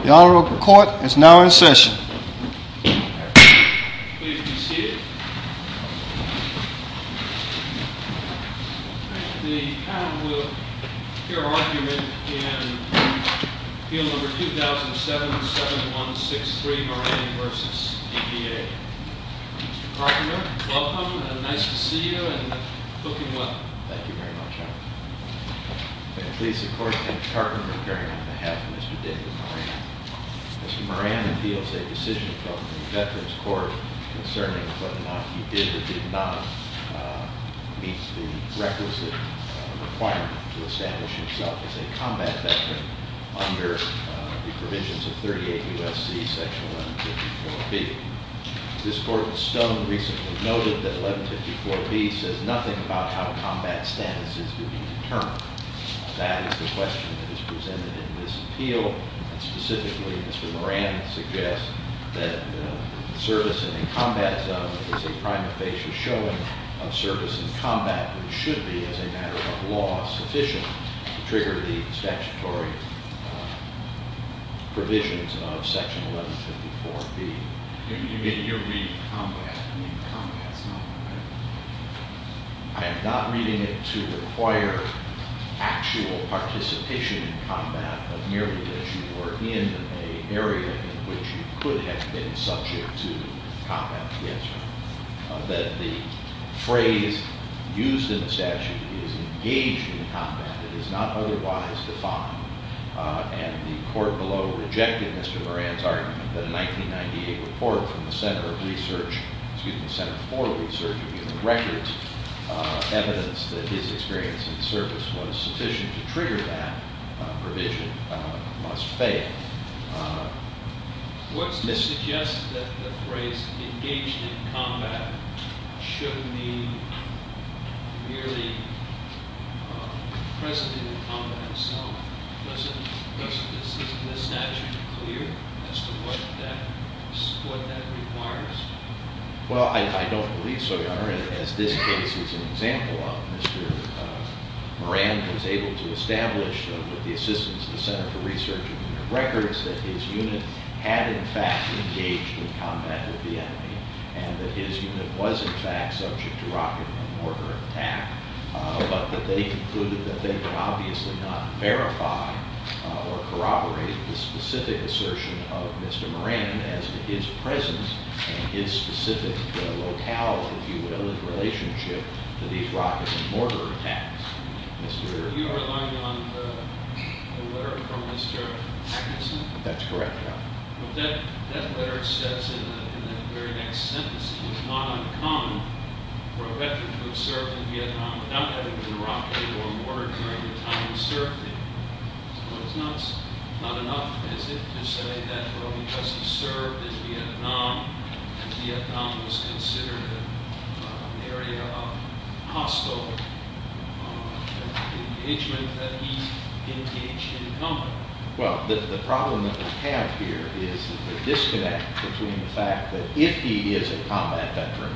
The Honorable Court is now in session. Please be seated. The panel will hear argument in Appeal No. 2007-7163, Moran v. DVA. Mr. Karpman, welcome and nice to see you and hope you're well. Thank you very much, Your Honor. I'm going to please support Mr. Karpman in bearing on behalf of Mr. David Moran. Mr. Moran appeals a decision from the Veterans Court concerning whether or not he did or did not meet the requisite requirement to establish himself as a combat veteran under the provisions of 38 U.S.C. Section 1154B. This Court of Stone recently noted that 1154B says nothing about how combat status is to be determined. That is the question that is presented in this appeal. And specifically, Mr. Moran suggests that service in a combat zone is a prima facie showing of service in combat, but it should be, as a matter of law, sufficient to trigger the statutory provisions of Section 1154B. You're reading combat. I mean, combat is not, right? I am not reading it to require actual participation in combat, but merely that you were in an area in which you could have been subject to combat. Yes, Your Honor. That the phrase used in the statute is engaged in combat. It is not otherwise defined. And the court below rejected Mr. Moran's argument that a 1998 report from the Center of Research, excuse me, Center for Research of Human Records, evidence that his experience in service was sufficient to trigger that provision, must fail. What's to suggest that the phrase engaged in combat should be merely present in the combat zone? Doesn't the statute clear as to what that requires? Well, I don't believe so, Your Honor. As this case is an example of, Mr. Moran was able to establish with the assistance of the Center for Research of Human Records that his unit had, in fact, engaged in combat with the enemy and that his unit was, in fact, subject to rocket and mortar attack, but that they concluded that they could obviously not verify or corroborate the specific assertion of Mr. Moran as to his presence and his specific locale, if you will, in relationship to these rocket and mortar attacks. You are relying on a letter from Mr. Hacknesson? That's correct, Your Honor. That letter says in the very next sentence, it was not uncommon for a veteran to have served in Vietnam without having been rocketed or mortared during the time he served there. So it's not enough, is it, to say that because he served in Vietnam, and Vietnam was considered an area of hostile engagement, that he engaged in combat? Well, the problem that we have here is the disconnect between the fact that if he is a combat veteran,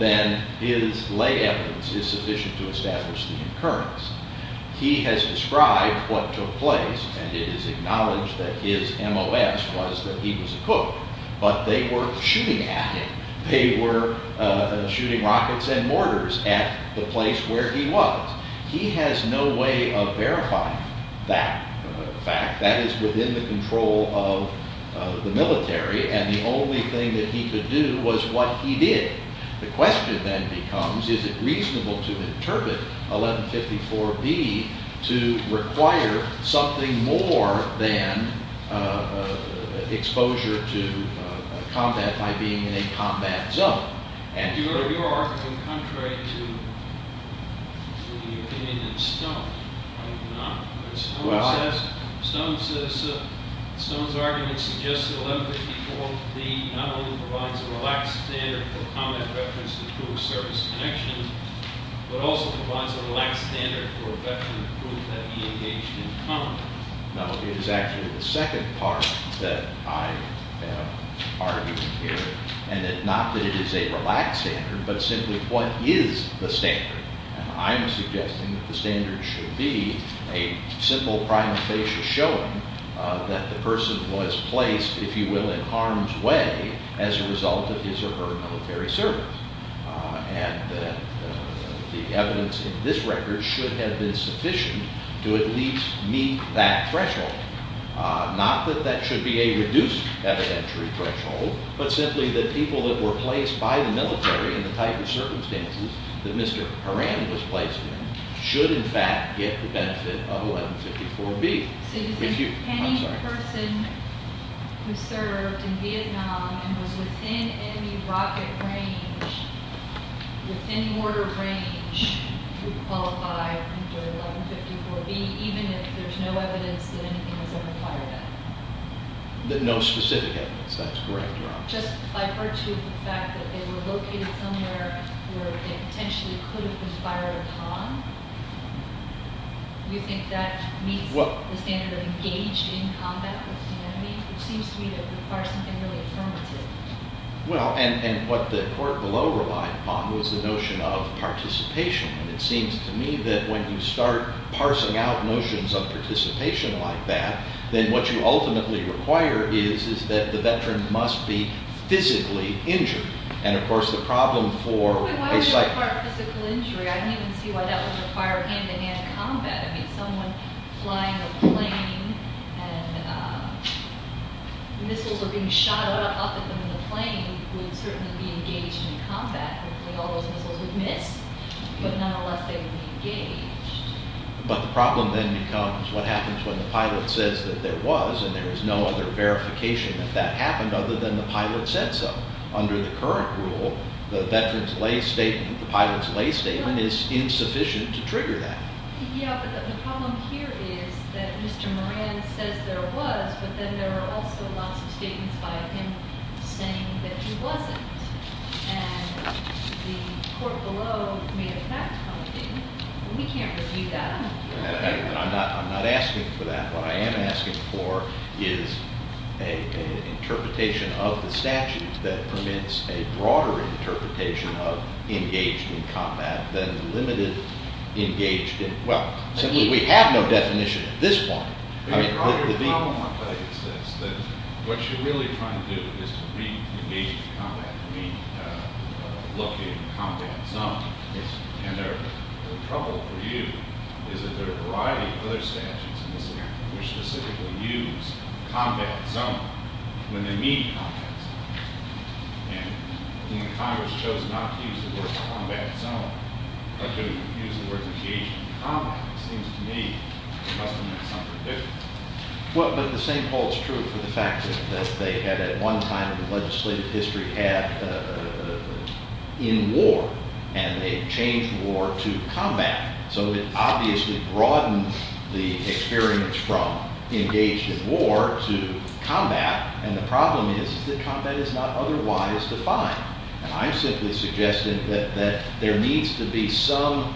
then his lay evidence is sufficient to establish the occurrence. He has described what took place, and it is acknowledged that his MOS was that he was a cook, but they were shooting at him. They were shooting rockets and mortars at the place where he was. He has no way of verifying that fact. That is within the control of the military, and the only thing that he could do was what he did. The question then becomes, is it reasonable to interpret 1154B to require something more than exposure to combat by being in a combat zone? Your argument is contrary to the opinion of Stone. Stone's argument suggests that 1154B not only provides a relaxed standard for combat veterans to prove service connection, but also provides a relaxed standard for a veteran to prove that he engaged in combat. No, it is actually the second part that I am arguing here, and not that it is a relaxed standard, but simply what is the standard? I am suggesting that the standard should be a simple prima facie showing that the person was placed, if you will, in harm's way as a result of his or her military service, and that the evidence in this record should have been sufficient to at least meet that threshold. Not that that should be a reduced evidentiary threshold, but simply that people that were placed by the military in the type of circumstances that Mr. Horan was placed in should in fact get the benefit of 1154B. Any person who served in Vietnam and was within enemy rocket range, within mortar range, would qualify under 1154B, even if there is no evidence that anything was ever fired at them? No specific evidence, that is correct. Just by virtue of the fact that they were located somewhere where they potentially could have been fired upon, do you think that meets the standard of engaged in combat with the enemy? It seems to me that would require something really affirmative. Well, and what the court below relied upon was the notion of participation, and it seems to me that when you start parsing out notions of participation like that, then what you ultimately require is that the veteran must be physically injured, and of course the problem for a sighted... Why would you require physical injury? I can't even see why that would require hand-in-hand combat. I mean, someone flying a plane and missiles are being shot up at them in the plane would certainly be engaged in combat. Hopefully all those missiles would miss, but nonetheless they would be engaged. But the problem then becomes what happens when the pilot says that there was, and there is no other verification that that happened other than the pilot said so. Under the current rule, the veteran's lay statement, the pilot's lay statement is insufficient to trigger that. Yeah, but the problem here is that Mr. Moran says there was, but then there are also lots of statements by him saying that he wasn't, and the court below may have passed something, and we can't review that. I'm not asking for that. What I am asking for is an interpretation of the statute that permits a broader interpretation of engaged in combat than the limited engaged in... Well, simply we have no definition at this point. I mean, part of the problem I'm trying to get at is this, that what you're really trying to do is to re-engage in combat, re-locate the combat zone. Yes. And the trouble for you is that there are a variety of other statutes in this country which specifically use combat zone when they mean combat zone. And when Congress chose not to use the word combat zone, or to use the word engaged in combat, it seems to me it must have meant something different. Well, but the same holds true for the fact that they had at one time in the legislative history had in war, and they changed war to combat. So it obviously broadened the experience from engaged in war to combat, and the problem is that combat is not otherwise defined. And I'm simply suggesting that there needs to be some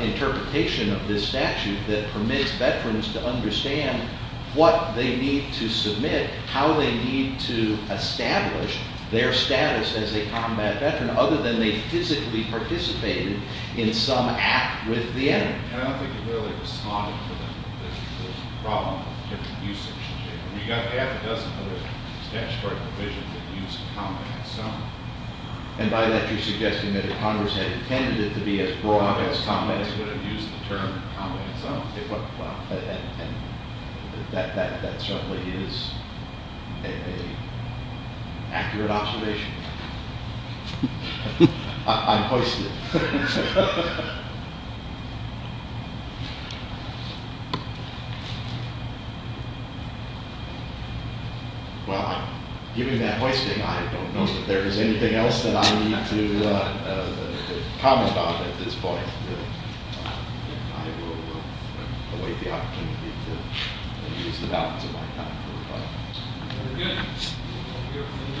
interpretation of this statute that permits veterans to understand what they need to submit, how they need to establish their status as a combat veteran, other than they physically participated in some act with the enemy. And I don't think it really responded to the problem of different uses. We've got half a dozen other statutory provisions that use combat zone. And by that you're suggesting that if Congress had intended it to be as broad as combat zone, they would have used the term combat zone. And that certainly is an accurate observation. I'm hoisted. Well, given that hoisting, I don't know if there is anything else that I need to comment on at this point. I will await the opportunity to use the balance of my time for rebuttal. Very good. We'll go from the government.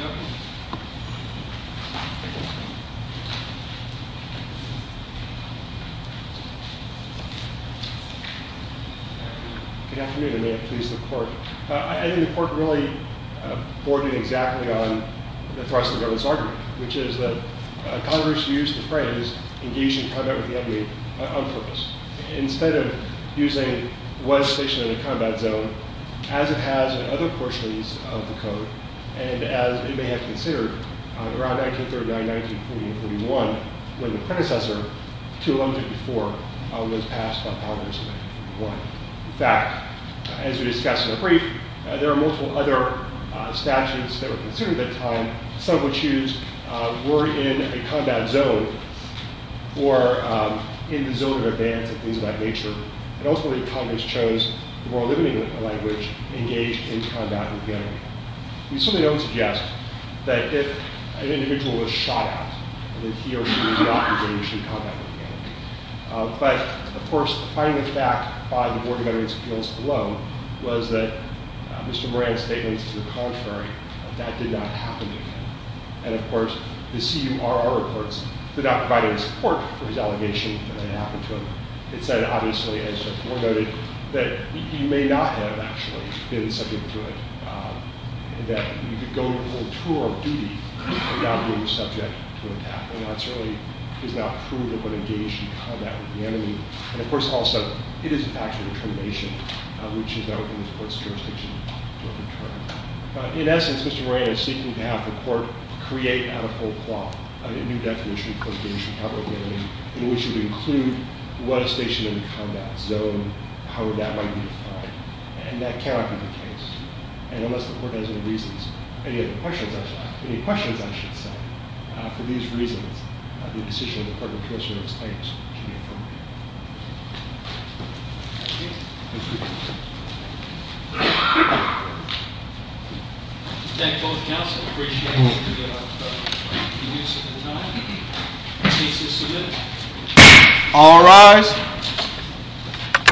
Good afternoon, and may it please the Court. I think the Court really boarded exactly on the thrust of the government's argument, which is that Congress used the phrase engage in combat with the enemy on purpose. Instead of using what's stationed in a combat zone, as it has in other portions of the Code, and as it may have considered around 1939, 1940, and 41, when the predecessor, 2154, was passed by Congress in 1941. In fact, as we discussed in the brief, there are multiple other statutes that were considered at the time. Some would choose we're in a combat zone, or in the zone in advance, and things of that nature. And ultimately, Congress chose the more limiting language, engage in combat with the enemy. We certainly don't suggest that if an individual was shot at, that he or she would not engage in combat with the enemy. But, of course, the finding of fact by the Board of Veterans Appeals below was that Mr. Moran's statement is the contrary. That did not happen to him. And, of course, the CURR reports did not provide any support for his allegation that it happened to him. It said, obviously, as Mr. Moore noted, that he may not have actually been subject to it. That you could go on a tour of duty without being subject to an attack. And that certainly is not proven when engaged in combat with the enemy. And, of course, also, it is a factual determination, which is not within the court's jurisdiction to overturn. In essence, Mr. Moran is seeking to have the court create a whole plot, a new definition, in which it would include what a station in the combat zone, how that might be defined. And that cannot be the case. And unless the court has any reasons, any questions, I should say, for these reasons, I do decide that the court will close your case. Thank you. Thank you. Thank you both, counsel. Appreciate you giving us your time. The case is submitted. All rise.